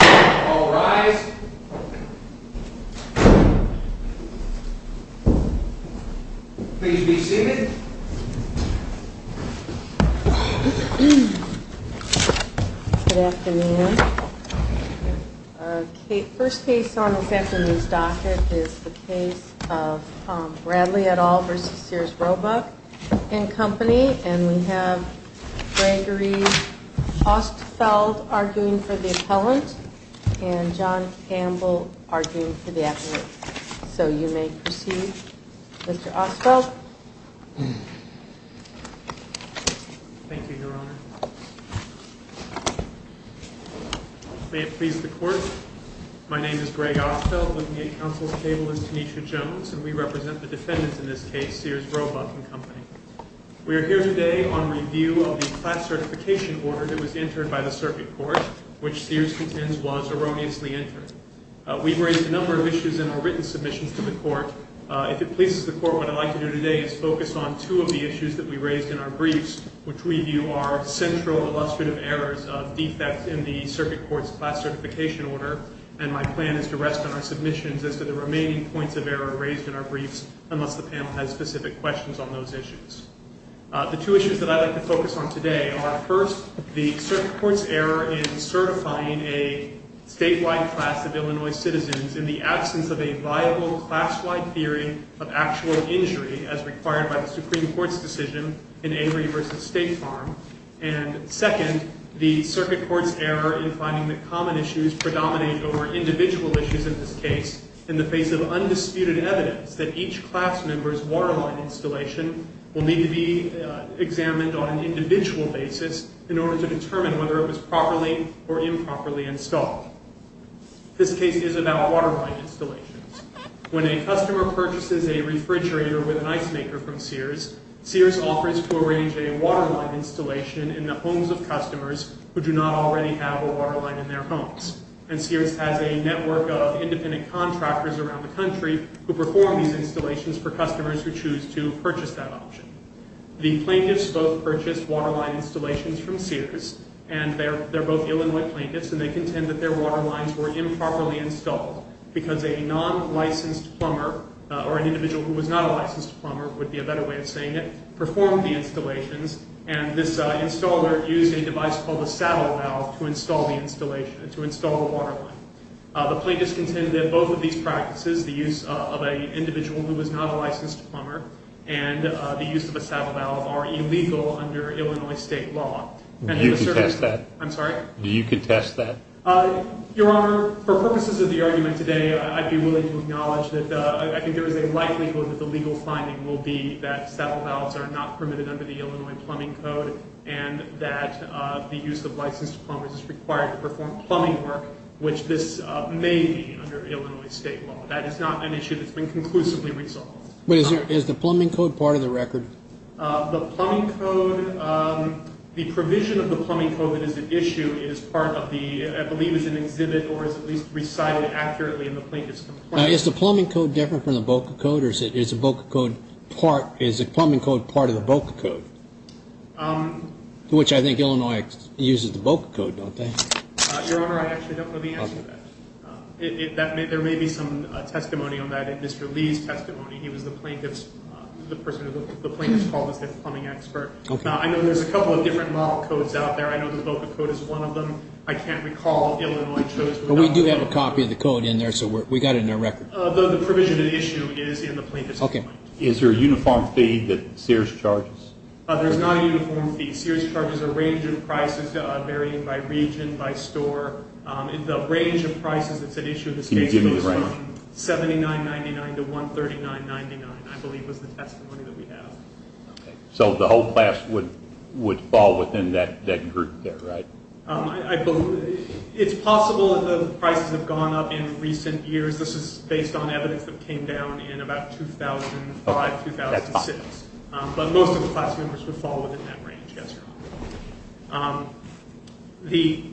All rise. Please be seated. Good afternoon. Our first case on this afternoon's docket is the case of Bradley et al. v. Sears, Roebuck & Co. And we have Gregory Ostfeld arguing for the appellant, and John Campbell arguing for the advocate. So you may proceed, Mr. Ostfeld. Thank you, Your Honor. May it please the Court, my name is Greg Ostfeld, looking at counsel's table as Tanisha Jones, and we represent the defendants in this case, Sears, Roebuck & Co. We are here today on review of the class certification order that was entered by the circuit court, which Sears contends was erroneously entered. We've raised a number of issues in our written submissions to the Court. If it pleases the Court, what I'd like to do today is focus on two of the issues that we raised in our briefs, which we view are central illustrative errors of defects in the circuit court's class certification order, and my plan is to rest on our submissions as to the remaining points of error raised in our briefs, unless the panel has specific questions on those issues. The two issues that I'd like to focus on today are, first, the circuit court's error in certifying a statewide class of Illinois citizens in the absence of a viable class-wide theory of actual injury as required by the Supreme Court's decision in Avery v. State Farm, and, second, the circuit court's error in finding that common issues predominate over individual issues in this case in the face of undisputed evidence that each class member's waterline installation will need to be examined on an individual basis in order to determine whether it was properly or improperly installed. This case is about waterline installations. When a customer purchases a refrigerator with an ice maker from Sears, Sears offers to arrange a waterline installation in the homes of customers who do not already have a waterline in their homes, and Sears has a network of independent contractors around the country who perform these installations for customers who choose to purchase that option. The plaintiffs both purchased waterline installations from Sears, and they're both Illinois plaintiffs, and they contend that their waterlines were improperly installed because a non-licensed plumber, or an individual who was not a licensed plumber would be a better way of saying it, and this installer used a device called a saddle valve to install the installation, to install the waterline. The plaintiffs contend that both of these practices, the use of an individual who was not a licensed plumber, and the use of a saddle valve are illegal under Illinois state law. Do you contest that? I'm sorry? Do you contest that? Your Honor, for purposes of the argument today, I'd be willing to acknowledge that I think there is a likelihood that the legal finding will be that saddle valves are not permitted under the Illinois Plumbing Code, and that the use of licensed plumbers is required to perform plumbing work, which this may be under Illinois state law. That is not an issue that's been conclusively resolved. But is the plumbing code part of the record? The plumbing code, the provision of the plumbing code that is at issue is part of the, I believe is an exhibit or is at least recited accurately in the plaintiff's complaint. Is the plumbing code different from the BOCA code, or is the BOCA code part, is the plumbing code part of the BOCA code? Which I think Illinois uses the BOCA code, don't they? Your Honor, I actually don't know the answer to that. There may be some testimony on that in Mr. Lee's testimony. He was the plaintiff's, the plaintiff's call was the plumbing expert. I know there's a couple of different model codes out there. I know the BOCA code is one of them. I can't recall Illinois chose one of them. But we do have a copy of the code in there, so we got it in our record. The provision at issue is in the plaintiff's complaint. Okay. Is there a uniform fee that Sears charges? There's not a uniform fee. Sears charges a range of prices varying by region, by store. The range of prices that's at issue in this case goes from $79.99 to $139.99, I believe was the testimony that we have. Okay. So the whole class would fall within that group there, right? It's possible that the prices have gone up in recent years. This is based on evidence that came down in about 2005, 2006. But most of the class members would fall within that range, yes, Your Honor. The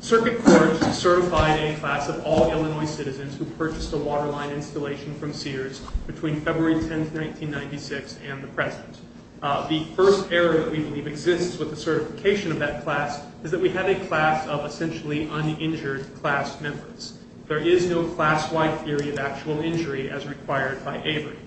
circuit court certified a class of all Illinois citizens who purchased a waterline installation from Sears between February 10, 1996 and the present. The first error that we believe exists with the certification of that class is that we have a class of essentially uninjured class members. There is no class-wide theory of actual injury as required by Avery.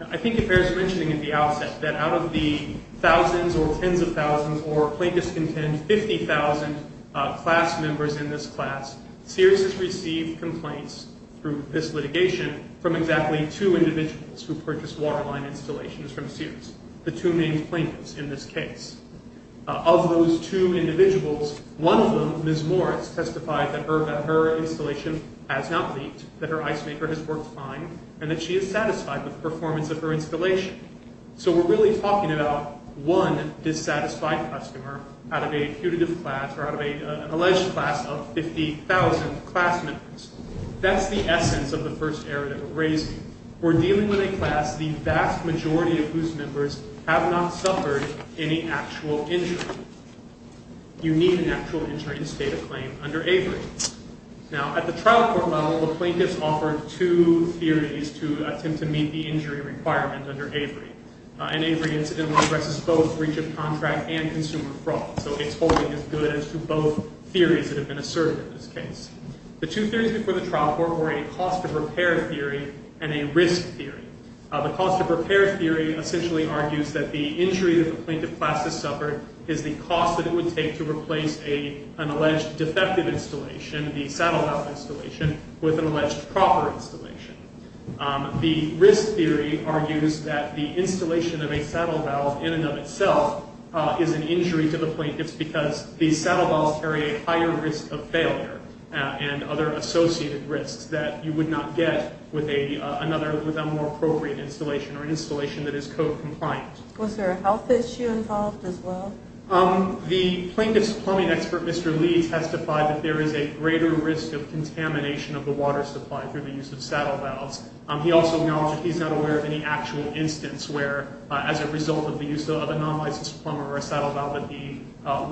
I think it bears mentioning at the outset that out of the thousands or tens of thousands or plaintiffs contend 50,000 class members in this class, Sears has received complaints through this litigation from exactly two individuals who purchased waterline installations from Sears, the two named plaintiffs in this case. Of those two individuals, one of them, Ms. Morris, testified that her installation has not leaked, that her ice maker has worked fine, and that she is satisfied with the performance of her installation. So we're really talking about one dissatisfied customer out of a putative class or out of an alleged class of 50,000 class members. That's the essence of the first error that we're raising. We're dealing with a class, the vast majority of whose members have not suffered any actual injury. You need an actual injury to state a claim under Avery. Now, at the trial court level, the plaintiffs offered two theories to attempt to meet the injury requirement under Avery. And Avery incidentally addresses both breach of contract and consumer fraud. So it's holding as good as to both theories that have been asserted in this case. The two theories before the trial court were a cost of repair theory and a risk theory. The cost of repair theory essentially argues that the injury that the plaintiff class has suffered is the cost that it would take to replace an alleged defective installation, the saddle valve installation, with an alleged proper installation. The risk theory argues that the installation of a saddle valve in and of itself is an injury to the plaintiffs because these saddle valves carry a higher risk of failure and other associated risks that you would not get with a more appropriate installation or an installation that is code compliant. Was there a health issue involved as well? The plaintiff's plumbing expert, Mr. Lee, testified that there is a greater risk of contamination of the water supply through the use of saddle valves. He also acknowledged that he's not aware of any actual instance where, as a result of the use of a non-licensed plumber or a saddle valve, that the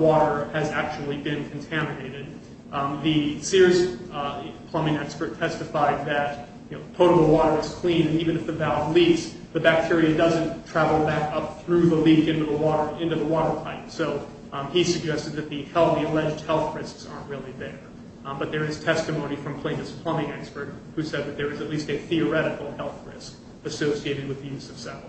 water has actually been contaminated. The Sears plumbing expert testified that, you know, total water is clean and even if the valve leaks, the bacteria doesn't travel back up through the leak into the water pipe. So he suggested that the alleged health risks aren't really there. But there is testimony from a plaintiff's plumbing expert who said that there is at least a theoretical health risk associated with the use of saddle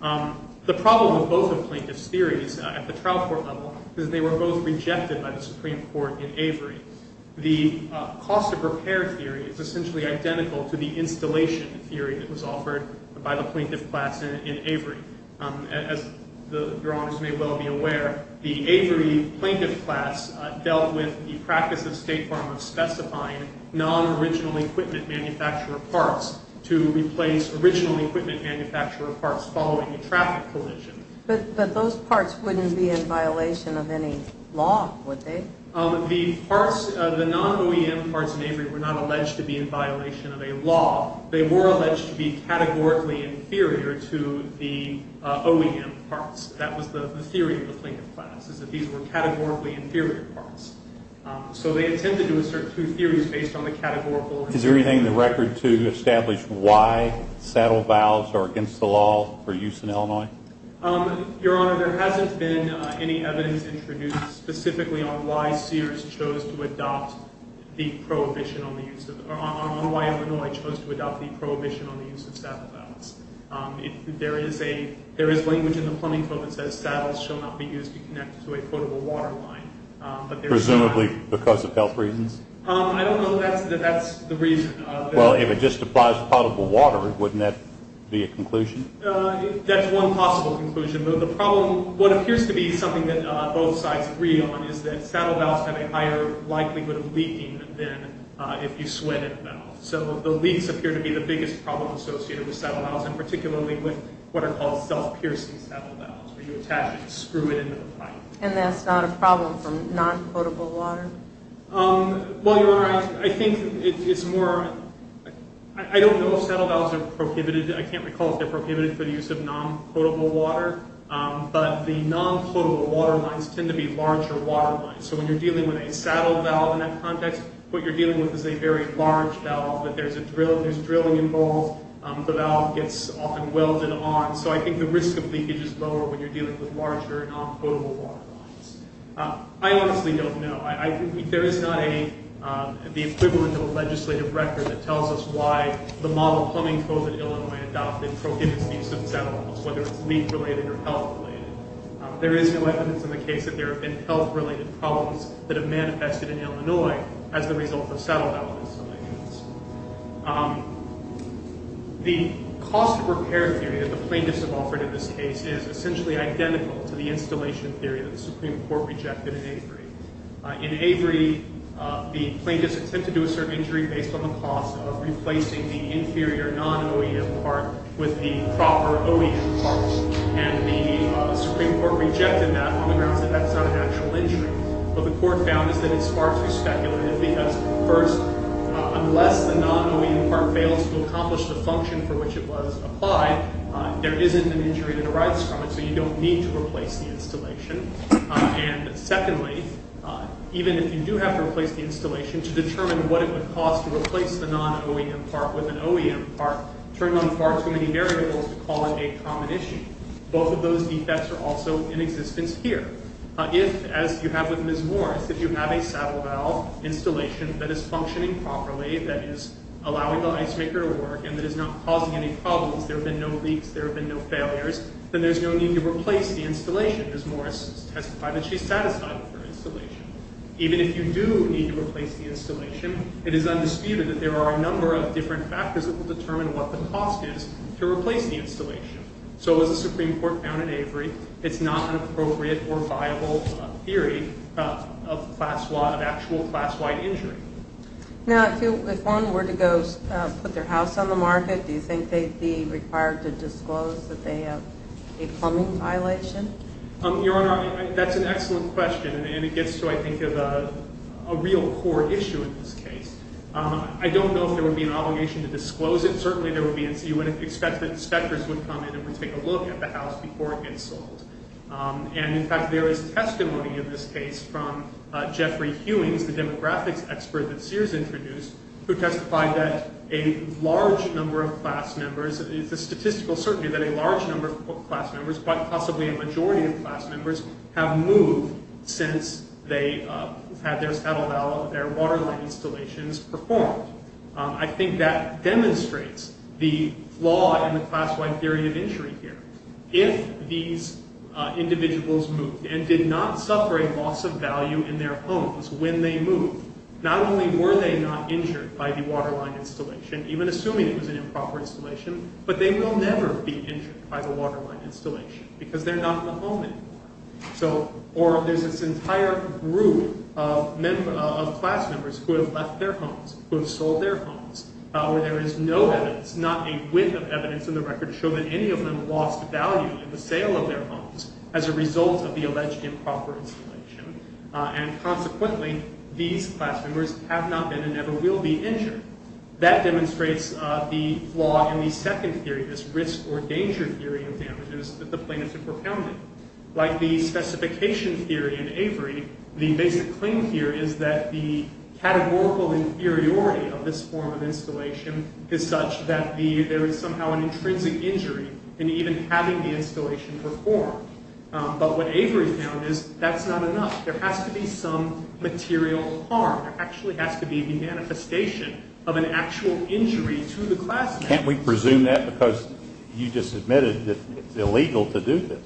valves. The problem with both of the plaintiff's theories at the trial court level is that they were both rejected by the Supreme Court in Avery. The cost of repair theory is essentially identical to the installation theory that was offered by the plaintiff class in Avery. As your honors may well be aware, the Avery plaintiff class dealt with the practice of State Farm of specifying non-original equipment manufacturer parts to replace original equipment manufacturer parts following a traffic collision. But those parts wouldn't be in violation of any law, would they? The parts, the non-OEM parts in Avery were not alleged to be in violation of a law. They were alleged to be categorically inferior to the OEM parts. That was the theory of the plaintiff class, is that these were categorically inferior parts. So they attempted to assert two theories based on the categorical… Is there anything in the record to establish why saddle valves are against the law for use in Illinois? Your honor, there hasn't been any evidence introduced specifically on why Sears chose to adopt the prohibition on the use of… on why Illinois chose to adopt the prohibition on the use of saddle valves. There is language in the plumbing code that says saddles shall not be used to connect to a potable water line. Presumably because of health reasons? I don't know that that's the reason. Well, if it just applies to potable water, wouldn't that be a conclusion? That's one possible conclusion. But the problem, what appears to be something that both sides agree on, is that saddle valves have a higher likelihood of leaking than if you sweat in a valve. So the leaks appear to be the biggest problem associated with saddle valves, and particularly with what are called self-piercing saddle valves, where you attach it and screw it into the pipe. And that's not a problem for non-potable water? Well, your honor, I think it's more… I don't know if saddle valves are prohibited. I can't recall if they're prohibited for the use of non-potable water. But the non-potable water lines tend to be larger water lines. So when you're dealing with a saddle valve in that context, what you're dealing with is a very large valve. There's drilling involved. The valve gets often welded on. So I think the risk of leakage is lower when you're dealing with larger non-potable water lines. I honestly don't know. There is not the equivalent of a legislative record that tells us why the model plumbing code that Illinois adopted prohibits the use of saddle valves, whether it's leak-related or health-related. There is no evidence in the case that there have been health-related problems that have manifested in Illinois as the result of saddle valves in some areas. The cost-of-repair theory that the plaintiffs have offered in this case is essentially identical to the installation theory that the Supreme Court rejected in Avery. In Avery, the plaintiffs attempted to do a certain injury based on the cost of replacing the inferior non-OEM part with the proper OEM part. And the Supreme Court rejected that on the grounds that that's not an actual injury. What the court found is that it's far too speculative because, first, unless the non-OEM part fails to accomplish the function for which it was applied, there isn't an injury that arrives from it, so you don't need to replace the installation. And secondly, even if you do have to replace the installation, to determine what it would cost to replace the non-OEM part with an OEM part turned on far too many variables to call it a common issue. Both of those defects are also in existence here. If, as you have with Ms. Morris, if you have a saddle valve installation that is functioning properly, that is allowing the ice maker to work and that is not causing any problems, there have been no leaks, there have been no failures, then there's no need to replace the installation. Ms. Morris testified that she's satisfied with her installation. Even if you do need to replace the installation, it is undisputed that there are a number of different factors that will determine what the cost is to replace the installation. So as the Supreme Court found in Avery, it's not an appropriate or viable theory of actual class-wide injury. Now, if one were to go put their house on the market, do you think they'd be required to disclose that they have a plumbing violation? Your Honor, that's an excellent question. And it gets to, I think, a real core issue in this case. I don't know if there would be an obligation to disclose it. Certainly, you would expect that inspectors would come in and would take a look at the house before it gets sold. And, in fact, there is testimony in this case from Jeffrey Hewings, the demographics expert that Sears introduced, who testified that a large number of class members, it's a statistical certainty that a large number of class members, quite possibly a majority of class members, have moved since they had their satellite installations performed. I think that demonstrates the flaw in the class-wide theory of injury here. If these individuals moved and did not suffer a loss of value in their homes when they moved, not only were they not injured by the waterline installation, even assuming it was an improper installation, but they will never be injured by the waterline installation because they're not in the home anymore. Or there's this entire group of class members who have left their homes, who have sold their homes, where there is no evidence, not a whiff of evidence in the record, to show that any of them lost value in the sale of their homes as a result of the alleged improper installation. And consequently, these class members have not been and never will be injured. That demonstrates the flaw in the second theory, this risk or danger theory of damages that the plaintiffs have propounded. Like the specification theory in Avery, the basic claim here is that the categorical inferiority of this form of installation is such that there is somehow an intrinsic injury in even having the installation performed. But what Avery found is that's not enough. There has to be some material harm. There actually has to be the manifestation of an actual injury to the class member. Can't we presume that because you just admitted that it's illegal to do this?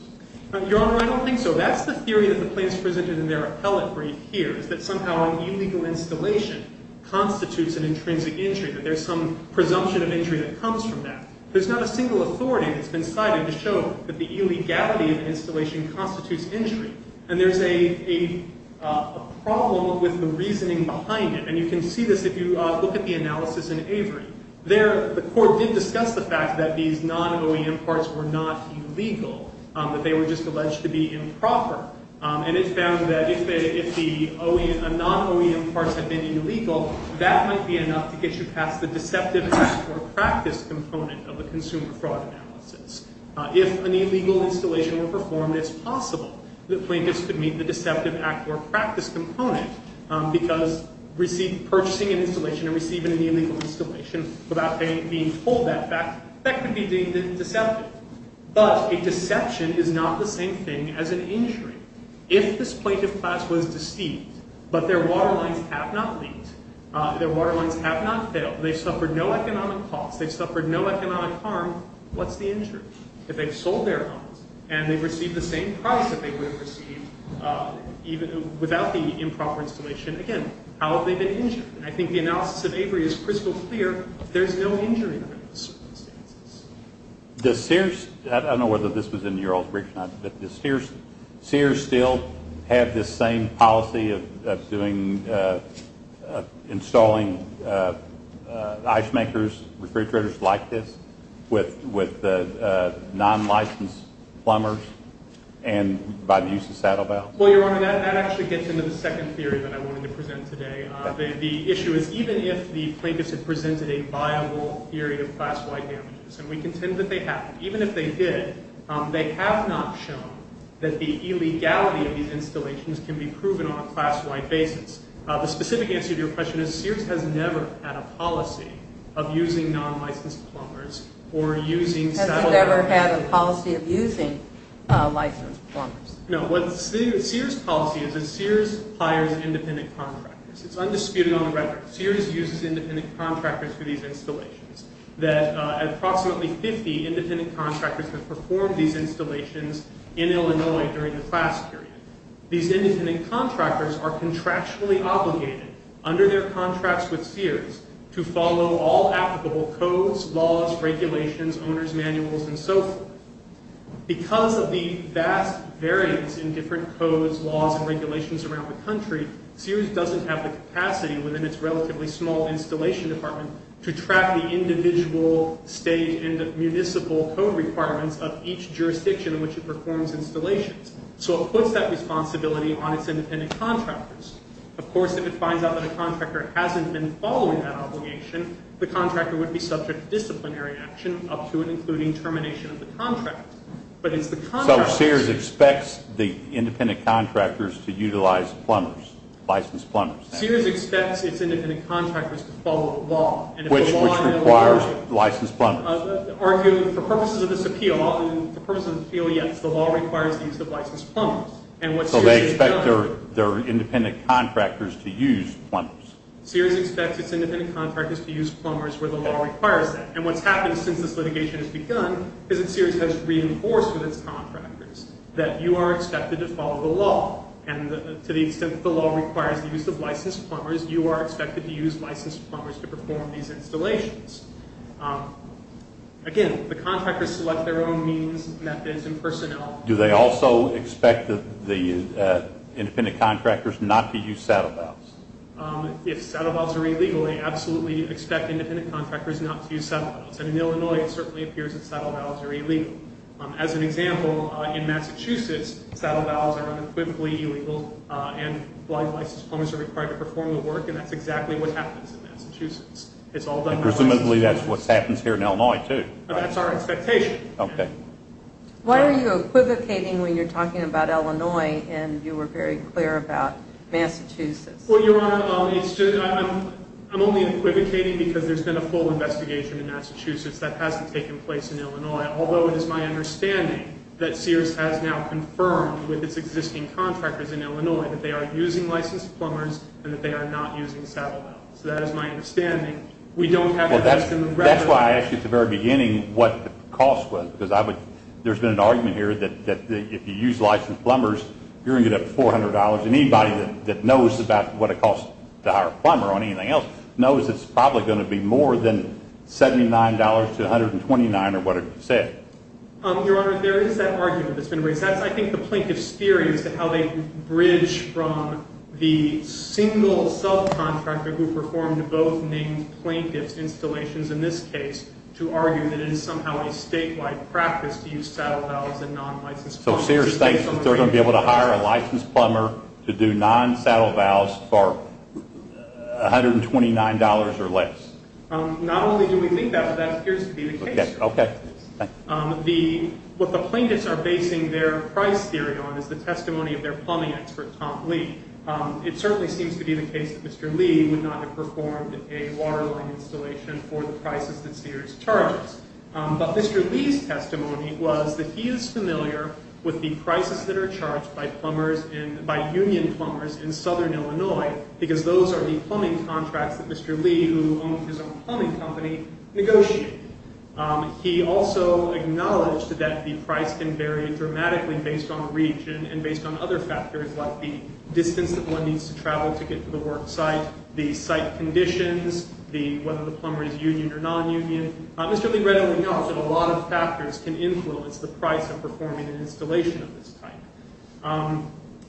Your Honor, I don't think so. That's the theory that the plaintiffs presented in their appellate brief here, is that somehow an illegal installation constitutes an intrinsic injury, that there's some presumption of injury that comes from that. There's not a single authority that's been cited to show that the illegality of the installation constitutes injury. And there's a problem with the reasoning behind it. And you can see this if you look at the analysis in Avery. There, the court did discuss the fact that these non-OEM parts were not illegal, that they were just alleged to be improper. And it found that if the non-OEM parts had been illegal, that might be enough to get you past the deceptive task or practice component of the consumer fraud analysis. If an illegal installation were performed, it's possible that plaintiffs could meet the deceptive act or practice component, because purchasing an installation and receiving an illegal installation without being told that fact, that could be deemed deceptive. But a deception is not the same thing as an injury. If this plaintiff class was deceived, but their water lines have not leaked, their water lines have not failed, they've suffered no economic cost, they've suffered no economic harm, what's the injury? If they've sold their homes and they've received the same price that they would have received without the improper installation, again, how have they been injured? And I think the analysis of Avery is crystal clear. There's no injury under those circumstances. Does Sears – I don't know whether this was in New York or elsewhere, but does Sears still have this same policy of installing ice makers, refrigerators like this, with non-licensed plumbers and by the use of saddle valves? Well, Your Honor, that actually gets into the second theory that I wanted to present today. The issue is even if the plaintiffs have presented a viable theory of class Y damages, and we contend that they have, even if they did, they have not shown that the illegality of these installations can be proven on a class Y basis. The specific answer to your question is Sears has never had a policy of using non-licensed plumbers or using saddle valves. Has it ever had a policy of using licensed plumbers? No. What Sears' policy is is Sears hires independent contractors. It's undisputed on the record. Sears uses independent contractors for these installations. Approximately 50 independent contractors have performed these installations in Illinois during the class period. These independent contractors are contractually obligated under their contracts with Sears to follow all applicable codes, laws, regulations, owners' manuals, and so forth. Because of the vast variance in different codes, laws, and regulations around the country, Sears doesn't have the capacity within its relatively small installation department to track the individual state and municipal code requirements of each jurisdiction in which it performs installations. So it puts that responsibility on its independent contractors. Of course, if it finds out that a contractor hasn't been following that obligation, the contractor would be subject to disciplinary action up to and including termination of the contract. So Sears expects the independent contractors to utilize plumbers, licensed plumbers? Sears expects its independent contractors to follow the law. Which requires licensed plumbers? For purposes of this appeal, yes, the law requires the use of licensed plumbers. So they expect their independent contractors to use plumbers? Sears expects its independent contractors to use plumbers where the law requires that. And what's happened since this litigation has begun is that Sears has reinforced with its contractors that you are expected to follow the law and to the extent that the law requires the use of licensed plumbers, you are expected to use licensed plumbers to perform these installations. Again, the contractors select their own means, methods, and personnel. Do they also expect the independent contractors not to use saddle valves? If saddle valves are illegal, they absolutely expect independent contractors not to use saddle valves. And in Illinois, it certainly appears that saddle valves are illegal. As an example, in Massachusetts, saddle valves are unequivocally illegal and blind licensed plumbers are required to perform the work, and that's exactly what happens in Massachusetts. Presumably that's what happens here in Illinois too. That's our expectation. Why are you equivocating when you're talking about Illinois and you were very clear about Massachusetts? Well, Your Honor, I'm only equivocating because there's been a full investigation in Massachusetts that hasn't taken place in Illinois, although it is my understanding that Sears has now confirmed with its existing contractors in Illinois that they are using licensed plumbers and that they are not using saddle valves. So that is my understanding. That's why I asked you at the very beginning what the cost was because there's been an argument here that if you use licensed plumbers, you're going to get up to $400, and anybody that knows about what it costs to hire a plumber or anything else knows it's probably going to be more than $79 to $129 or whatever you said. Your Honor, there is that argument that's been raised. I think the plaintiff's theory is how they bridge from the single subcontractor who performed both named plaintiff's installations in this case to argue that it is somehow a statewide practice to use saddle valves and non-licensed plumbers. So Sears thinks that they're going to be able to hire a licensed plumber to do non-saddle valves for $129 or less. Not only do we think that, but that appears to be the case. Okay. What the plaintiffs are basing their price theory on is the testimony of their plumbing expert, Tom Lee. It certainly seems to be the case that Mr. Lee would not have performed a waterline installation for the prices that Sears charges. But Mr. Lee's testimony was that he is familiar with the prices that are charged by union plumbers in southern Illinois because those are the plumbing contracts that Mr. Lee, who owned his own plumbing company, negotiated. He also acknowledged that the price can vary dramatically based on the region and based on other factors like the distance that one needs to travel to get to the work site, the site conditions, whether the plumber is union or non-union. Mr. Lee readily knows that a lot of factors can influence the price of performing an installation of this type.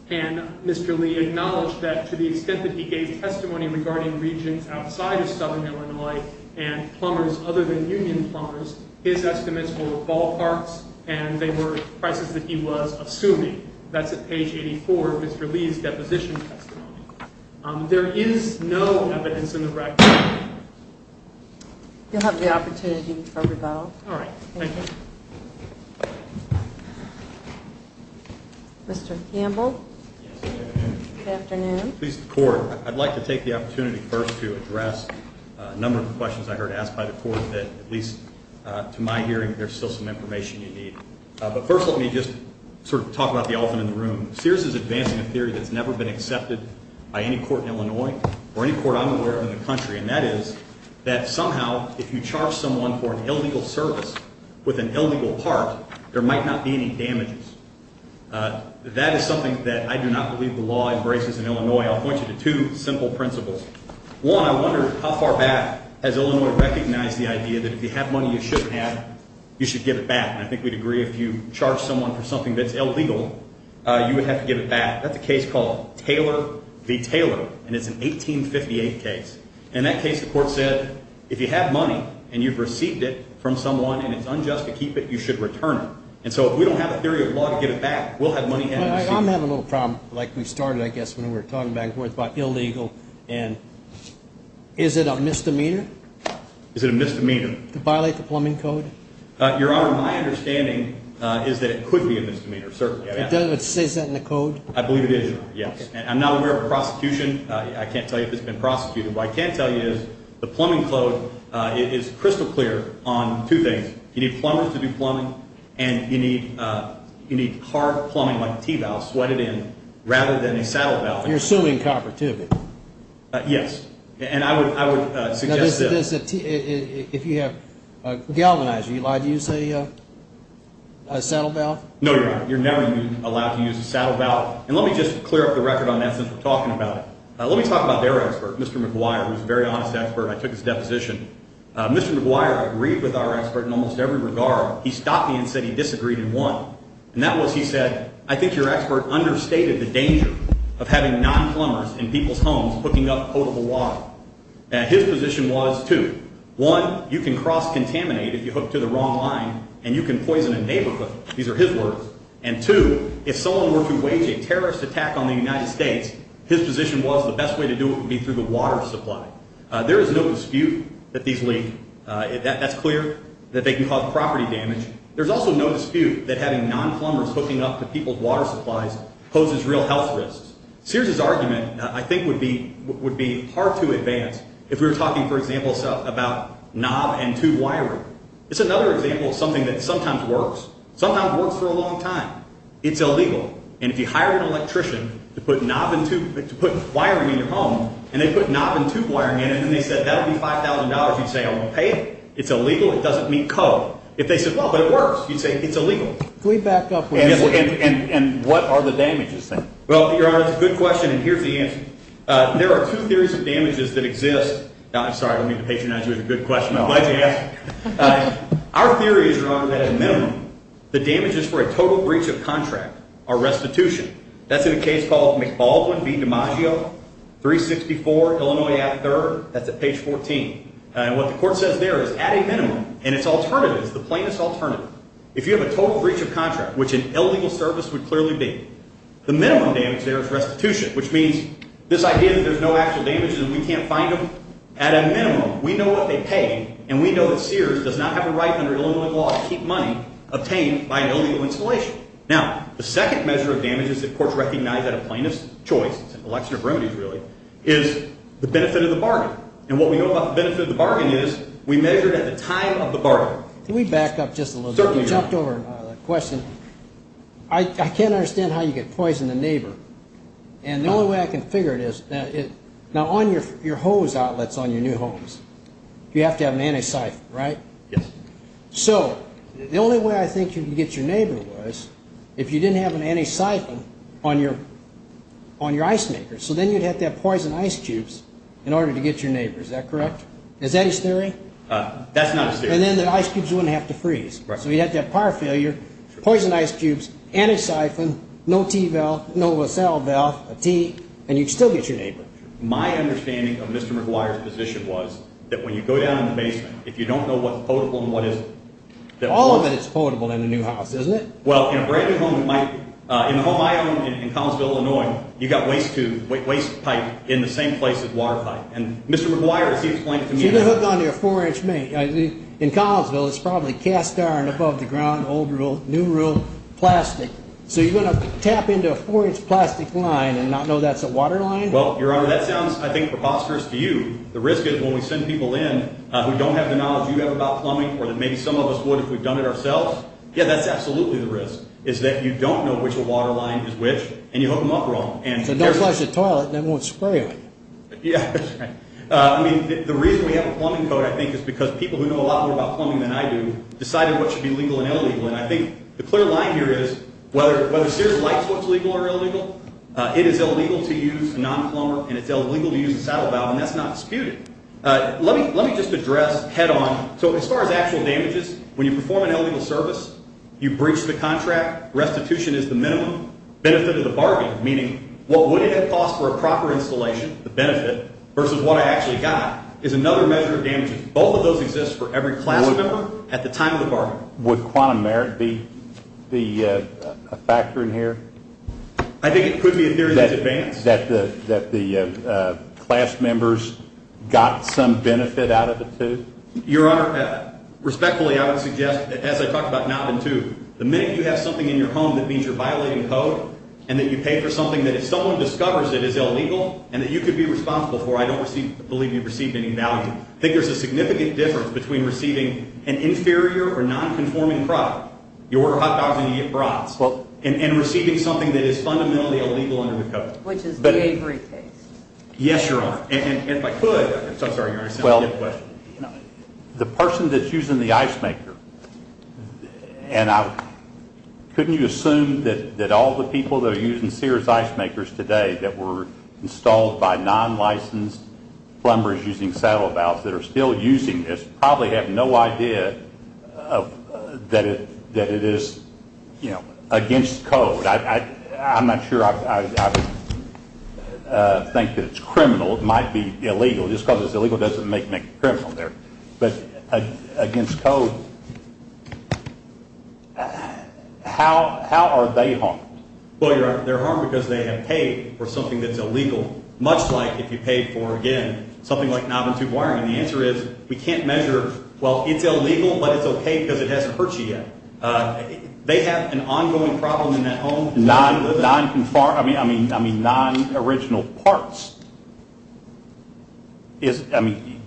And Mr. Lee acknowledged that to the extent that he gave testimony regarding regions outside of southern Illinois and plumbers other than union plumbers, his estimates were ballparks and they were prices that he was assuming. That's at page 84 of Mr. Lee's deposition testimony. There is no evidence in the record. You'll have the opportunity to rebuttal. All right. Thank you. Mr. Campbell. Good afternoon. Please, the Court. I'd like to take the opportunity first to address a number of questions I heard asked by the Court that at least to my hearing there's still some information you need. But first let me just sort of talk about the elephant in the room. Sears is advancing a theory that's never been accepted by any court in Illinois or any court I'm aware of in the country, and that is that somehow if you charge someone for an illegal service with an illegal part, there might not be any damages. That is something that I do not believe the law embraces in Illinois. I'll point you to two simple principles. One, I wonder how far back has Illinois recognized the idea that if you have money you shouldn't have, you should give it back. And I think we'd agree if you charge someone for something that's illegal, you would have to give it back. That's a case called Taylor v. Taylor, and it's an 1858 case. In that case, the Court said if you have money and you've received it from someone and it's unjust to keep it, you should return it. And so if we don't have a theory of law to get it back, we'll have money handed to us. I'm having a little problem like we started, I guess, when we were talking back and forth about illegal. And is it a misdemeanor? Is it a misdemeanor? To violate the plumbing code? Your Honor, my understanding is that it could be a misdemeanor, certainly. Does it say that in the code? I believe it is, Your Honor, yes. I'm not aware of a prosecution. I can't tell you if it's been prosecuted. What I can tell you is the plumbing code is crystal clear on two things. You need plumbers to do plumbing, and you need hard plumbing like a T-valve, sweated in, rather than a saddle valve. You're assuming copper, too? Yes. And I would suggest this. If you have galvanized, are you allowed to use a saddle valve? No, Your Honor, you're never allowed to use a saddle valve. And let me just clear up the record on that since we're talking about it. Let me talk about their expert, Mr. McGuire, who's a very honest expert. I took his deposition. Mr. McGuire agreed with our expert in almost every regard. He stopped me and said he disagreed in one, and that was he said, I think your expert understated the danger of having non-plumbers in people's homes hooking up potable water. His position was, two, one, you can cross-contaminate if you hook to the wrong line, and you can poison a neighborhood. These are his words. And, two, if someone were to wage a terrorist attack on the United States, his position was the best way to do it would be through the water supply. There is no dispute that these leak. That's clear, that they can cause property damage. There's also no dispute that having non-plumbers hooking up to people's water supplies poses real health risks. Sears' argument, I think, would be hard to advance if we were talking, for example, about knob and tube wiring. It's another example of something that sometimes works. Sometimes works for a long time. It's illegal. And if you hire an electrician to put knob and tube wiring in your home and they put knob and tube wiring in it and they said that would be $5,000, you'd say, I'm going to pay it. It's illegal. It doesn't meet code. If they said, well, but it works, you'd say it's illegal. Can we back up? And what are the damages? Well, Your Honor, it's a good question, and here's the answer. There are two theories of damages that exist. I'm sorry, I don't mean to patronize you. It was a good question. I'd like to ask. Our theory is, Your Honor, that at a minimum, the damages for a total breach of contract are restitution. That's in a case called McBaldwin v. DiMaggio, 364 Illinois Ave. 3rd. That's at page 14. And what the court says there is at a minimum, and it's alternative, it's the plainest alternative, if you have a total breach of contract, which an illegal service would clearly be, the minimum damage there is restitution, which means this idea that there's no actual damages and we can't find them, at a minimum, we know what they pay, and we know that Sears does not have a right under Illinois law to keep money obtained by an illegal installation. Now, the second measure of damages that courts recognize at a plainest choice, it's an election of remedies, really, is the benefit of the bargain. And what we know about the benefit of the bargain is we measure it at the time of the bargain. Can we back up just a little bit? Certainly, Your Honor. You jumped over the question. I can't understand how you could poison the neighbor. And the only way I can figure it is, now, on your hose outlets on your new homes, you have to have an anti-siphon, right? Yes. So the only way I think you can get your neighbor was if you didn't have an anti-siphon on your ice maker. So then you'd have to have poison ice cubes in order to get your neighbor. Is that correct? Is that his theory? That's not his theory. And then the ice cubes wouldn't have to freeze. So you'd have to have power failure, poison ice cubes, anti-siphon, no T valve, no SL valve, a T, and you'd still get your neighbor. My understanding of Mr. McGuire's position was that when you go down in the basement, if you don't know what's potable and what isn't. All of it is potable in the new house, isn't it? Well, in a brand-new home, in the home I own in Collinsville, Illinois, you've got waste pipe in the same place as water pipe. And Mr. McGuire, as he explained to me, So you're going to hook onto your 4-inch main. In Collinsville, it's probably cast iron above the ground, old rule, new rule, plastic. So you're going to tap into a 4-inch plastic line and not know that's a water line? Well, Your Honor, that sounds, I think, preposterous to you. The risk is when we send people in who don't have the knowledge you have about plumbing or that maybe some of us would if we'd done it ourselves, yeah, that's absolutely the risk, is that you don't know which water line is which and you hook them up wrong. So don't flush the toilet and then won't spray it. Yeah. I mean, the reason we have a plumbing code, I think, is because people who know a lot more about plumbing than I do decided what should be legal and illegal. And I think the clear line here is whether Sears likes what's legal or illegal, it is illegal to use a non-plumber and it's illegal to use a saddle valve, and that's not disputed. Let me just address head on, so as far as actual damages, when you perform an illegal service, you breach the contract, restitution is the minimum, benefit of the bargain, meaning what would it have cost for a proper installation, the benefit, versus what I actually got is another measure of damages. Both of those exist for every class member at the time of the bargain. Would quantum merit be a factor in here? I think it could be a theory that's advanced. That the class members got some benefit out of the two? Your Honor, respectfully, I would suggest, as I talked about not in two, the minute you have something in your home that means you're violating the code and that you pay for something that if someone discovers it is illegal and that you could be responsible for, I don't believe you've received any value. I think there's a significant difference between receiving an inferior or non-conforming product, your hot dogs and your brats, and receiving something that is fundamentally illegal under the code. Which is the aviary case. Yes, Your Honor. And if I could, I'm sorry, you're going to ask another question. The person that's using the ice maker, and couldn't you assume that all the people that are using Sears ice makers today that were installed by non-licensed plumbers using saddle valves that are still using this probably have no idea that it is, you know, against code. I'm not sure I think that it's criminal. It might be illegal. Just because it's illegal doesn't make me a criminal there. But against code, how are they harmed? Well, they're harmed because they have paid for something that's illegal. Much like if you paid for, again, something like knob and tube wiring. The answer is we can't measure, well, it's illegal, but it's okay because it hasn't hurt you yet. They have an ongoing problem in that home. Non-conforming, I mean, non-original parts. I mean,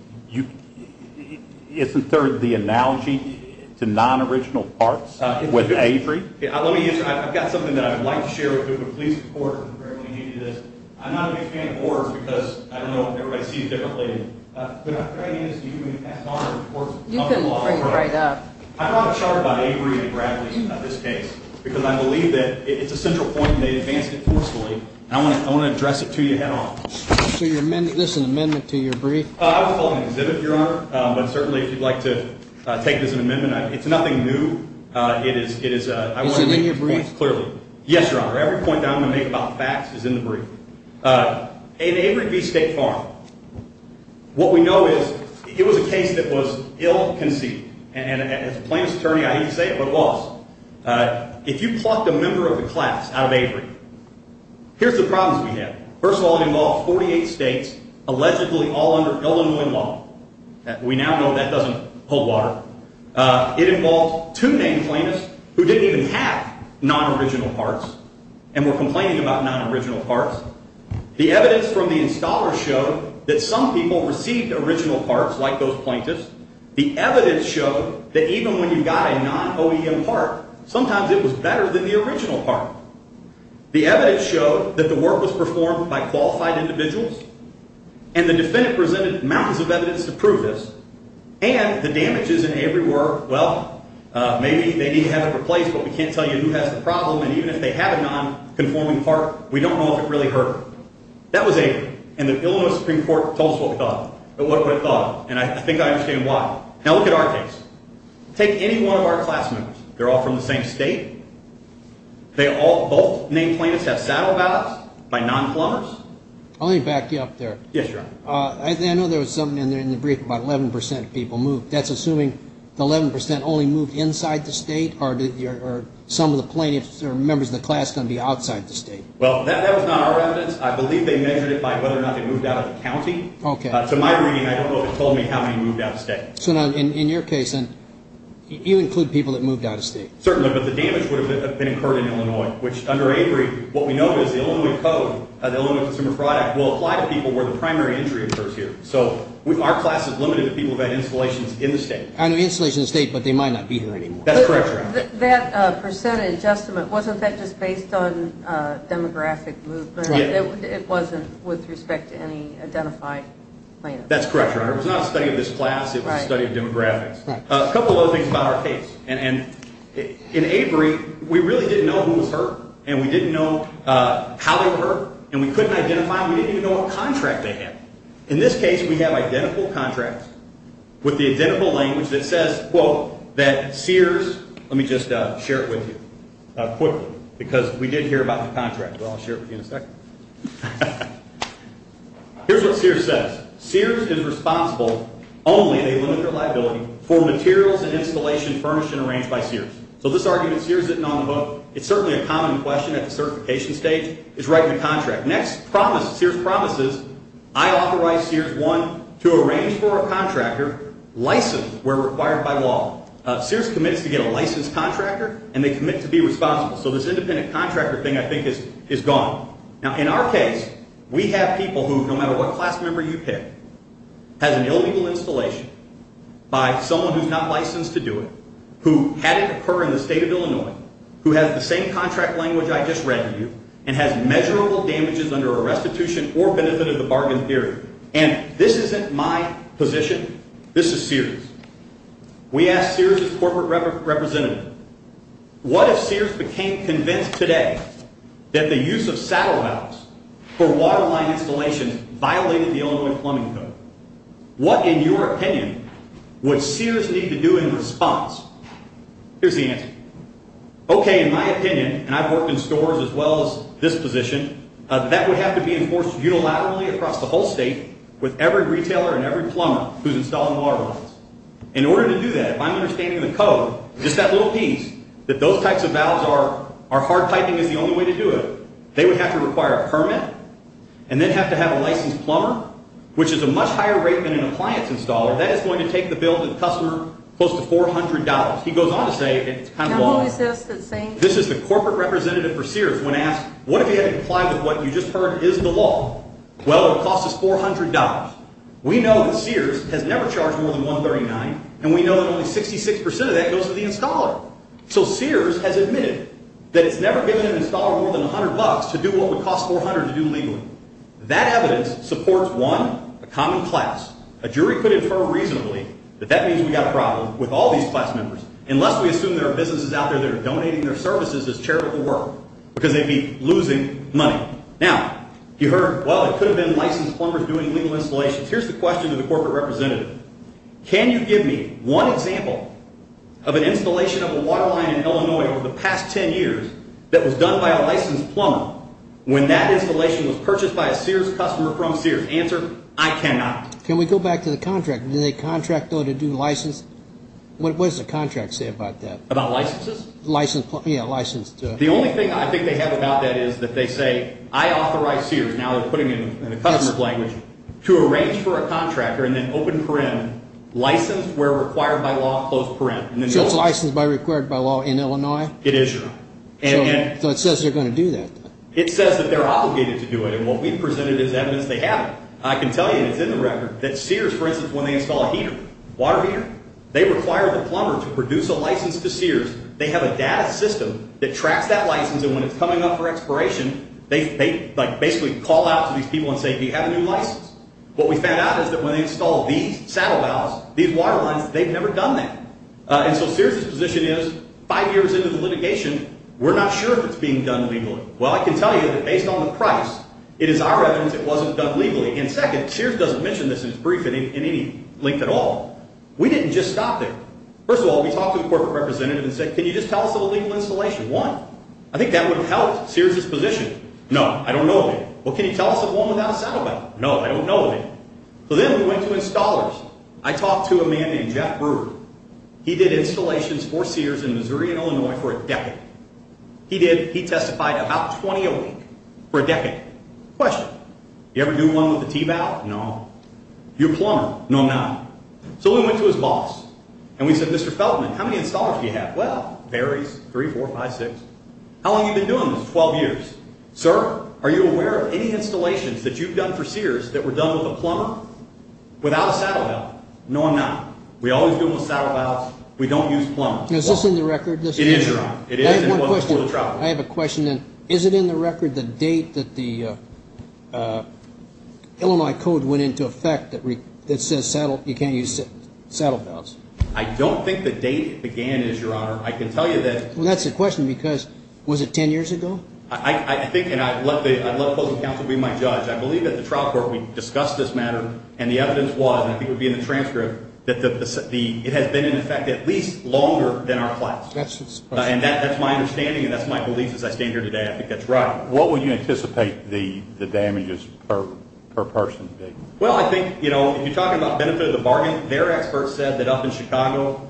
isn't there the analogy to non-original parts with aviary? Let me answer. I've got something that I'd like to share with the police and the court. I'm not a big fan of oars because, I don't know, everybody sees it differently. But the idea is you can pass on the reports of the law. You can bring it right up. I brought a chart by Avery and Bradley in this case because I believe that it's a central point and they advanced it forcefully. I want to address it to you head on. So this is an amendment to your brief? I was following an exhibit, Your Honor, but certainly if you'd like to take it as an amendment, it's nothing new. Is it in your brief? Yes, Your Honor. Every point that I'm going to make about facts is in the brief. In Avery v. State Farm, what we know is it was a case that was ill-conceived. And as a plaintiff's attorney, I hate to say it, but it was. If you plucked a member of the class out of Avery, here's the problems we have. First of all, it involved 48 states, allegedly all under Illinois law. We now know that doesn't hold water. It involved two named plaintiffs who didn't even have non-original parts and were complaining about non-original parts. The evidence from the installer showed that some people received original parts, like those plaintiffs. The evidence showed that even when you got a non-OEM part, sometimes it was better than the original part. The evidence showed that the work was performed by qualified individuals, and the defendant presented mountains of evidence to prove this, and the damages in Avery were, well, maybe they need to have it replaced, but we can't tell you who has the problem, and even if they have a non-conforming part, we don't know if it really hurt. That was Avery, and the Illinois Supreme Court told us what it thought, and I think I understand why. Now look at our case. Take any one of our class members. They're all from the same state. Both named plaintiffs have saddle ballots by non-plumbers. Let me back you up there. Yes, Your Honor. I know there was something in the brief about 11% of people moved. That's assuming the 11% only moved inside the state, or are some of the plaintiffs or members of the class going to be outside the state? Well, that was not our evidence. I believe they measured it by whether or not they moved out of the county. To my reading, I don't know if it told me how many moved out of state. So in your case, you include people that moved out of state. Certainly, but the damage would have been incurred in Illinois, which under Avery, what we know is the Illinois Code, the Illinois Consumer Fraud Act, will apply to people where the primary injury occurs here. So our class is limited to people who have had installations in the state. I know installations in the state, but they might not be here anymore. That's correct, Your Honor. That percentage estimate, wasn't that just based on demographic movement? It wasn't with respect to any identified plaintiffs? That's correct, Your Honor. It was not a study of this class. It was a study of demographics. A couple other things about our case. In Avery, we really didn't know who was hurt, and we didn't know how they were hurt, and we couldn't identify them. We didn't even know what contract they had. In this case, we have identical contracts with the identical language that says, quote, that Sears, let me just share it with you quickly, because we did hear about the contract, but I'll share it with you in a second. Here's what Sears says. Sears is responsible only, they limit their liability, for materials and installation furnished and arranged by Sears. So this argument, Sears isn't on the book. It's certainly a common question at the certification stage. It's right in the contract. Next promise, Sears promises, I authorize Sears, one, to arrange for a contractor, licensed where required by law. Sears commits to get a licensed contractor, and they commit to be responsible. So this independent contractor thing, I think, is gone. Now, in our case, we have people who, no matter what class member you pick, has an illegal installation by someone who's not licensed to do it, who had it occur in the state of Illinois, who has the same contract language I just read to you, and has measurable damages under a restitution or benefit of the bargain theory. And this isn't my position. This is Sears. We asked Sears' corporate representative, what if Sears became convinced today that the use of saddle valves for waterline installation violated the Illinois plumbing code? What, in your opinion, would Sears need to do in response? Here's the answer. Okay, in my opinion, and I've worked in stores as well as this position, that would have to be enforced unilaterally across the whole state with every retailer and every plumber who's installing waterlines. In order to do that, if I'm understanding the code, just that little piece that those types of valves are hard piping is the only way to do it, they would have to require a permit and then have to have a licensed plumber, which is a much higher rate than an appliance installer. That is going to take the bill to the customer close to $400. He goes on to say it's kind of long. This is the corporate representative for Sears when asked, what if he had to comply with what you just heard is the law? Well, it costs us $400. We know that Sears has never charged more than $139, and we know that only 66% of that goes to the installer. So Sears has admitted that it's never given an installer more than $100 to do what would cost $400 to do legally. That evidence supports, one, a common class. A jury could infer reasonably that that means we've got a problem with all these class members, unless we assume there are businesses out there that are donating their services as charitable work because they'd be losing money. Now, you heard, well, it could have been licensed plumbers doing legal installations. Here's the question to the corporate representative. Can you give me one example of an installation of a waterline in Illinois over the past 10 years that was done by a licensed plumber when that installation was purchased by a Sears customer from Sears? Answer, I cannot. Can we go back to the contract? Did they contract, though, to do license? What does the contract say about that? About licenses? License, yeah, license. The only thing I think they have about that is that they say, I authorize Sears, now they're putting it in a customer's language, to arrange for a contractor and then open paren, license where required by law, close paren. So it's licensed by required by law in Illinois? It is. So it says they're going to do that? It says that they're obligated to do it, and what we've presented is evidence they haven't. I can tell you, and it's in the record, that Sears, for instance, when they install a heater, water heater, they require the plumber to produce a license to Sears. They have a data system that tracks that license, and when it's coming up for expiration, they basically call out to these people and say, do you have a new license? What we found out is that when they install these saddle valves, these waterlines, they've never done that. And so Sears' position is, five years into the litigation, we're not sure if it's being done legally. Well, I can tell you that based on the price, it is our evidence it wasn't done legally. And second, Sears doesn't mention this in his brief in any length at all. We didn't just stop there. First of all, we talked to the corporate representative and said, can you just tell us of a legal installation? One, I think that would have helped Sears' position. No, I don't know of any. Well, can you tell us of one without a saddle valve? No, I don't know of any. So then we went to installers. I talked to a man named Jeff Brewer. He did installations for Sears in Missouri and Illinois for a decade. He testified about 20 a week for a decade. Question, you ever do one with a T-valve? No. You a plumber? No, I'm not. So we went to his boss, and we said, Mr. Feltman, how many installers do you have? Well, varies, three, four, five, six. How long have you been doing this? 12 years. Sir, are you aware of any installations that you've done for Sears that were done with a plumber without a saddle valve? No, I'm not. We always do them with saddle valves. We don't use plumbers. Is this in the record? It is, Your Honor. I have one question. I have a question. Is it in the record the date that the Illinois Code went into effect that says you can't use saddle valves? I don't think the date it began is, Your Honor. I can tell you that. Well, that's a question because was it 10 years ago? I think, and I'd let the opposing counsel be my judge. I believe at the trial court we discussed this matter, and the evidence was, and I think it would be in the transcript, that it has been in effect at least longer than our class. And that's my understanding, and that's my belief as I stand here today. I think that's right. What would you anticipate the damages per person to be? Well, I think, you know, if you're talking about benefit of the bargain, their expert said that up in Chicago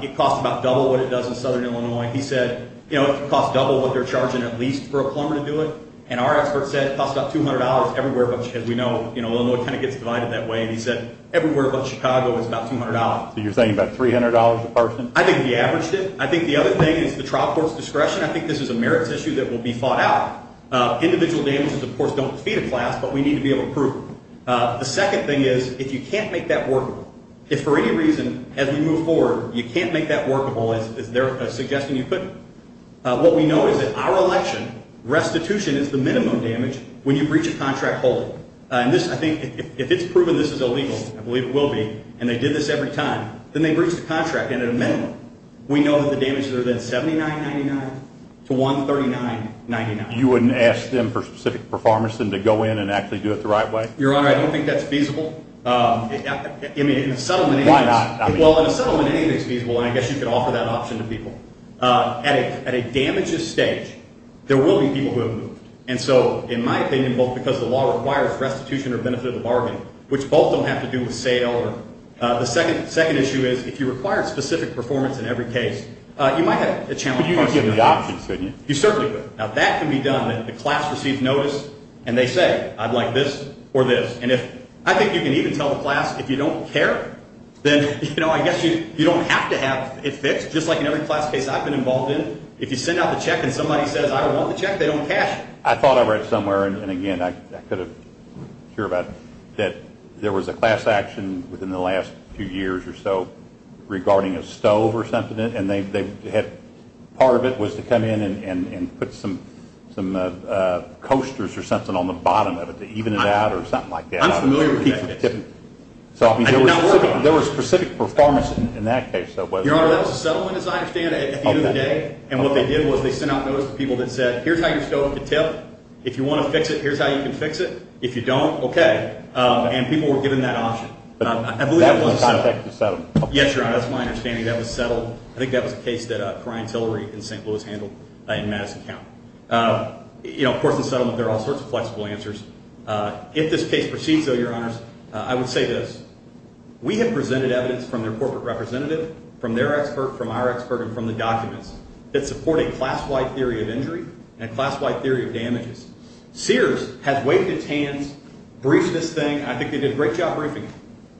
it costs about double what it does in southern Illinois. He said, you know, it costs double what they're charging at least for a plumber to do it. And our expert said it costs about $200 everywhere but, as we know, Illinois kind of gets divided that way. And he said everywhere but Chicago is about $200. So you're saying about $300 a person? I think we averaged it. I think the other thing is the trial court's discretion. I think this is a merits issue that will be fought out. Individual damages, of course, don't defeat a class, but we need to be able to prove it. The second thing is if you can't make that workable, if for any reason as we move forward you can't make that workable, is there a suggestion you couldn't? What we know is that our election restitution is the minimum damage when you breach a contract wholly. And this, I think, if it's proven this is illegal, I believe it will be, and they did this every time, then they breached the contract. And at a minimum we know that the damages are then $79.99 to $139.99. You wouldn't ask them for specific performance than to go in and actually do it the right way? Your Honor, I don't think that's feasible. I mean, in a settlement, anything is. Why not? Well, in a settlement, anything is feasible, and I guess you could offer that option to people. At a damages stage, there will be people who have moved. And so, in my opinion, both because the law requires restitution or benefit of the bargain, which both don't have to do with sale or the second issue is if you require specific performance in every case, you might have a challenge. But you could give them the option, couldn't you? You certainly could. Now, that can be done if the class receives notice and they say, I'd like this or this. And I think you can even tell the class if you don't care, then, you know, I guess you don't have to have it fixed. Just like in every class case I've been involved in, if you send out the check and somebody says, I don't want the check, they don't cash it. I thought I read somewhere, and again, I could have cared about it, that there was a class action within the last few years or so regarding a stove or something, and part of it was to come in and put some coasters or something on the bottom of it to even it out or something like that. I'm familiar with that case. So, I mean, there was specific performance in that case. Your Honor, that was a settlement, as I understand it, at the end of the day. Okay. And what they did was they sent out notice to people that said, here's how your stove could tip. If you want to fix it, here's how you can fix it. If you don't, okay. And people were given that option. But that was in contact with the settlement. Yes, Your Honor. That's my understanding. That was settled. I think that was a case that Cryan Tillery in St. Louis handled in Madison County. You know, of course, in settlement, there are all sorts of flexible answers. If this case proceeds, though, Your Honors, I would say this. We have presented evidence from their corporate representative, from their expert, from our expert, and from the documents that support a class-wide theory of injury and a class-wide theory of damages. Sears has waved its hands, briefed this thing. I think they did a great job briefing it.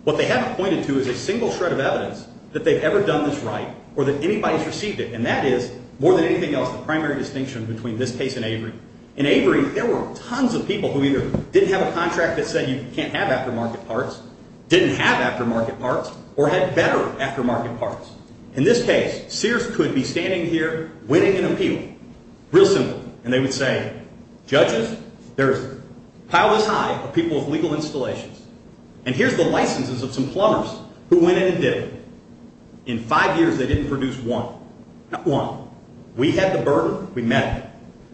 What they haven't pointed to is a single shred of evidence that they've ever done this right or that anybody's received it. And that is, more than anything else, the primary distinction between this case and Avery. In Avery, there were tons of people who either didn't have a contract that said you can't have aftermarket parts, didn't have aftermarket parts, or had better aftermarket parts. In this case, Sears could be standing here winning an appeal. Real simple. And they would say, Judges, there's a pile this high of people with legal installations, and here's the licenses of some plumbers who went in and did it. In five years, they didn't produce one. Not one. We had the burden. We met it.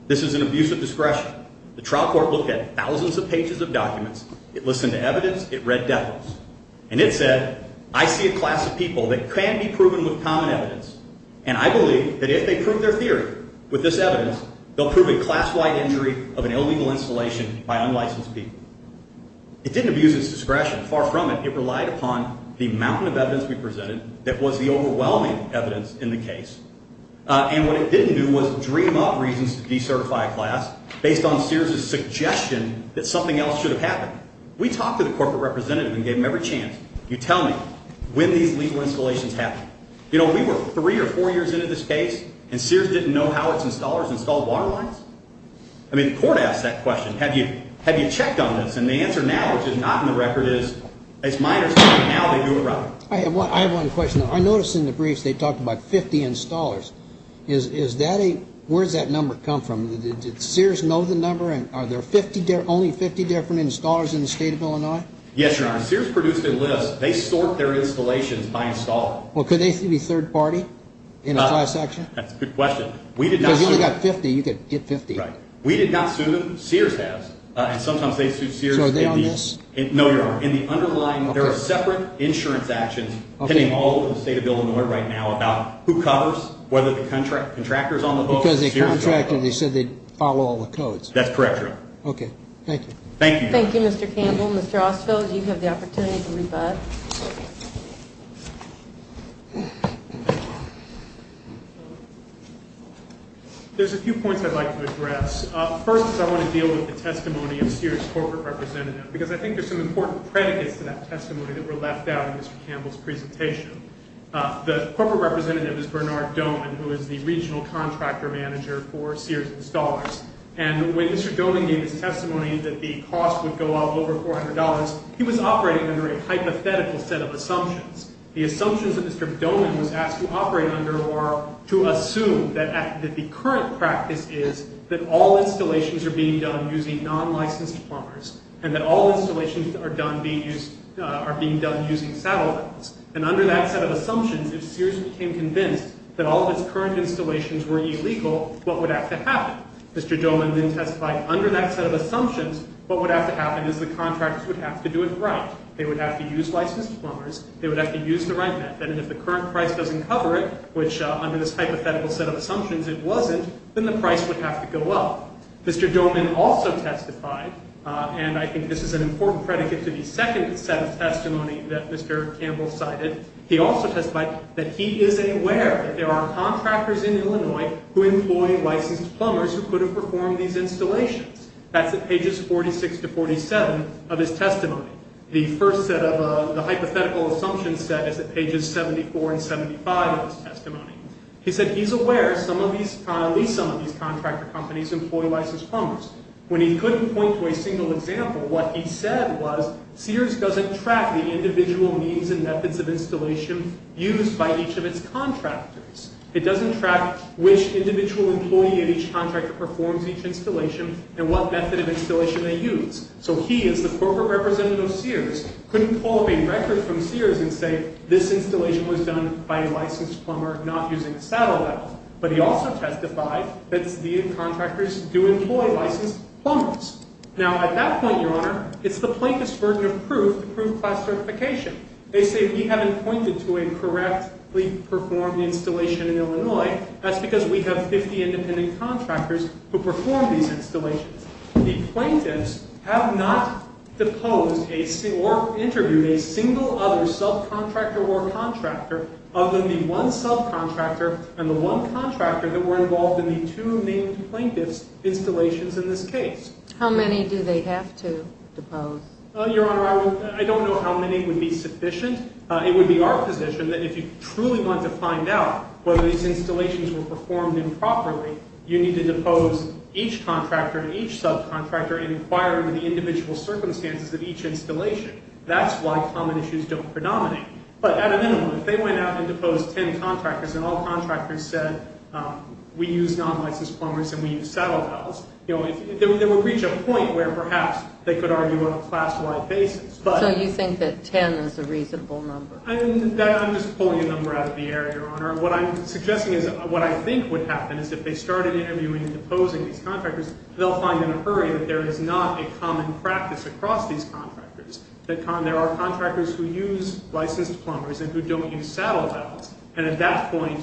This is an abuse of discretion. The trial court looked at thousands of pages of documents. It listened to evidence. It read decimals. And it said, I see a class of people that can be proven with common evidence, and I believe that if they prove their theory with this evidence, they'll prove a class-wide injury of an illegal installation by unlicensed people. It didn't abuse its discretion. Far from it. It relied upon the mountain of evidence we presented that was the overwhelming evidence in the case. And what it didn't do was dream up reasons to decertify a class based on Sears' suggestion that something else should have happened. We talked to the corporate representative and gave him every chance. You tell me when these legal installations happened. You know, we were three or four years into this case, and Sears didn't know how its installers installed water lines? I mean, the court asked that question. Have you checked on this? And the answer now, which is not in the record, is it's minor. Now they do it right. I have one question. I noticed in the briefs they talked about 50 installers. Where does that number come from? Did Sears know the number? Are there only 50 different installers in the state of Illinois? Yes, Your Honor. Sears produced a list. They sort their installations by installer. Well, could they be third party in a class action? That's a good question. If you only got 50, you could get 50. Right. We did not sue them. Sears has. And sometimes they sue Sears. So are they on this? No, Your Honor. In the underlying, there are separate insurance actions pending all over the state of Illinois right now about who covers, whether the contractors on the boat or Sears on the boat. Because they contracted, they said they'd follow all the codes. That's correct, Your Honor. Okay. Thank you. Thank you, Mr. Campbell. Mr. Osfeld, you have the opportunity to rebut. There's a few points I'd like to address. First is I want to deal with the testimony of Sears' corporate representative, because I think there's some important predicates to that testimony that were left out in Mr. Campbell's presentation. The corporate representative is Bernard Doman, who is the regional contractor manager for Sears Installers. And when Mr. Doman gave his testimony that the cost would go up over $400, he was operating under a hypothetical set of assumptions. The assumptions that Mr. Doman was asked to operate under are to assume that the current practice is that all installations are being done using non-licensed plumbers and that all installations are being done using saddle belts. And under that set of assumptions, if Sears became convinced that all of its current installations were illegal, what would have to happen? Mr. Doman then testified under that set of assumptions, what would have to happen is the contractors would have to do it right. They would have to use licensed plumbers. They would have to use the right method. And if the current price doesn't cover it, which under this hypothetical set of assumptions it wasn't, then the price would have to go up. Mr. Doman also testified, and I think this is an important predicate to the second set of testimony that Mr. Campbell cited. He also testified that he is aware that there are contractors in Illinois who employ licensed plumbers who couldn't perform these installations. That's at pages 46 to 47 of his testimony. The first set of the hypothetical assumption set is at pages 74 and 75 of his testimony. He said he's aware at least some of these contractor companies employ licensed plumbers. When he couldn't point to a single example, what he said was Sears doesn't track the individual means and methods of installation used by each of its contractors. It doesn't track which individual employee in each contractor performs each installation and what method of installation they use. So he, as the corporate representative of Sears, couldn't pull up a record from Sears and say this installation was done by a licensed plumber not using a saddle valve. But he also testified that the contractors do employ licensed plumbers. Now, at that point, Your Honor, it's the plaintiff's burden of proof to prove class certification. They say we haven't pointed to a correctly performed installation in Illinois. That's because we have 50 independent contractors who perform these installations. The plaintiffs have not deposed or interviewed a single other subcontractor or contractor other than the one subcontractor and the one contractor that were involved in the two named plaintiff's installations in this case. How many do they have to depose? Your Honor, I don't know how many would be sufficient. It would be our position that if you truly want to find out whether these installations were performed improperly, you need to depose each contractor and each subcontractor and inquire into the individual circumstances of each installation. That's why common issues don't predominate. But at a minimum, if they went out and deposed 10 contractors and all contractors said we use non-licensed plumbers and we use saddle valves, you know, they would reach a point where perhaps they could argue on a class-wide basis. So you think that 10 is a reasonable number? I'm just pulling a number out of the air, Your Honor. What I'm suggesting is what I think would happen is if they started interviewing and deposing these contractors, they'll find in a hurry that there is not a common practice across these contractors. There are contractors who use licensed plumbers and who don't use saddle valves. And at that point,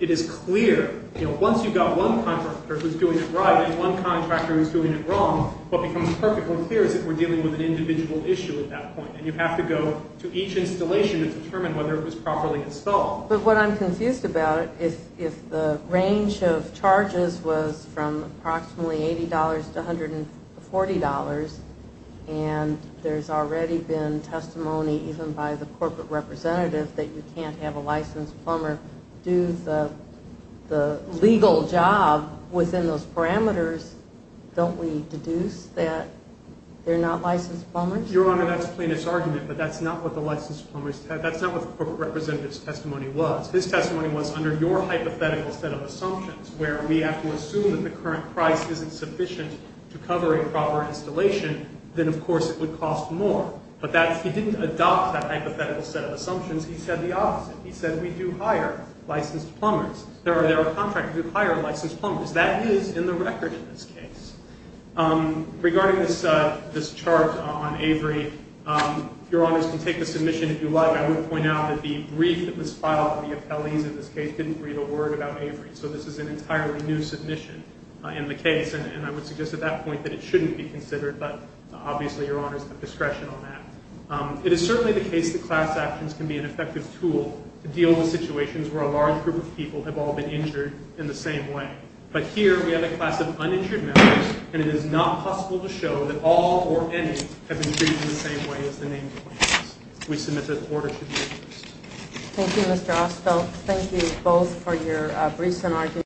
it is clear, you know, once you've got one contractor who's doing it right and one contractor who's doing it wrong, what becomes perfectly clear is that we're dealing with an individual issue at that point. And you have to go to each installation to determine whether it was properly installed. But what I'm confused about is if the range of charges was from approximately $80 to $140 and there's already been testimony even by the corporate representative that you can't have a licensed plumber do the legal job within those parameters, don't we deduce that they're not licensed plumbers? Your Honor, that's a plaintiff's argument, but that's not what the licensed plumbers said. That's not what the corporate representative's testimony was. His testimony was under your hypothetical set of assumptions where we have to assume that the current price isn't sufficient to cover a proper installation, then, of course, it would cost more. But he didn't adopt that hypothetical set of assumptions. He said the opposite. He said we do hire licensed plumbers. There are contractors who hire licensed plumbers. That is in the record in this case. Regarding this chart on Avery, if Your Honors can take the submission if you like, I would point out that the brief that was filed by the appellees in this case didn't read a word about Avery. So this is an entirely new submission in the case. And I would suggest at that point that it shouldn't be considered. But obviously, Your Honors have discretion on that. It is certainly the case that class actions can be an effective tool to deal with situations where a large group of people have all been injured in the same way. But here we have a class of uninjured members, and it is not possible to show that all or any have been treated in the same way as the name implies. We submit that the order should be reversed. Thank you, Mr. Osfeld. Thank you both for your briefs and arguments.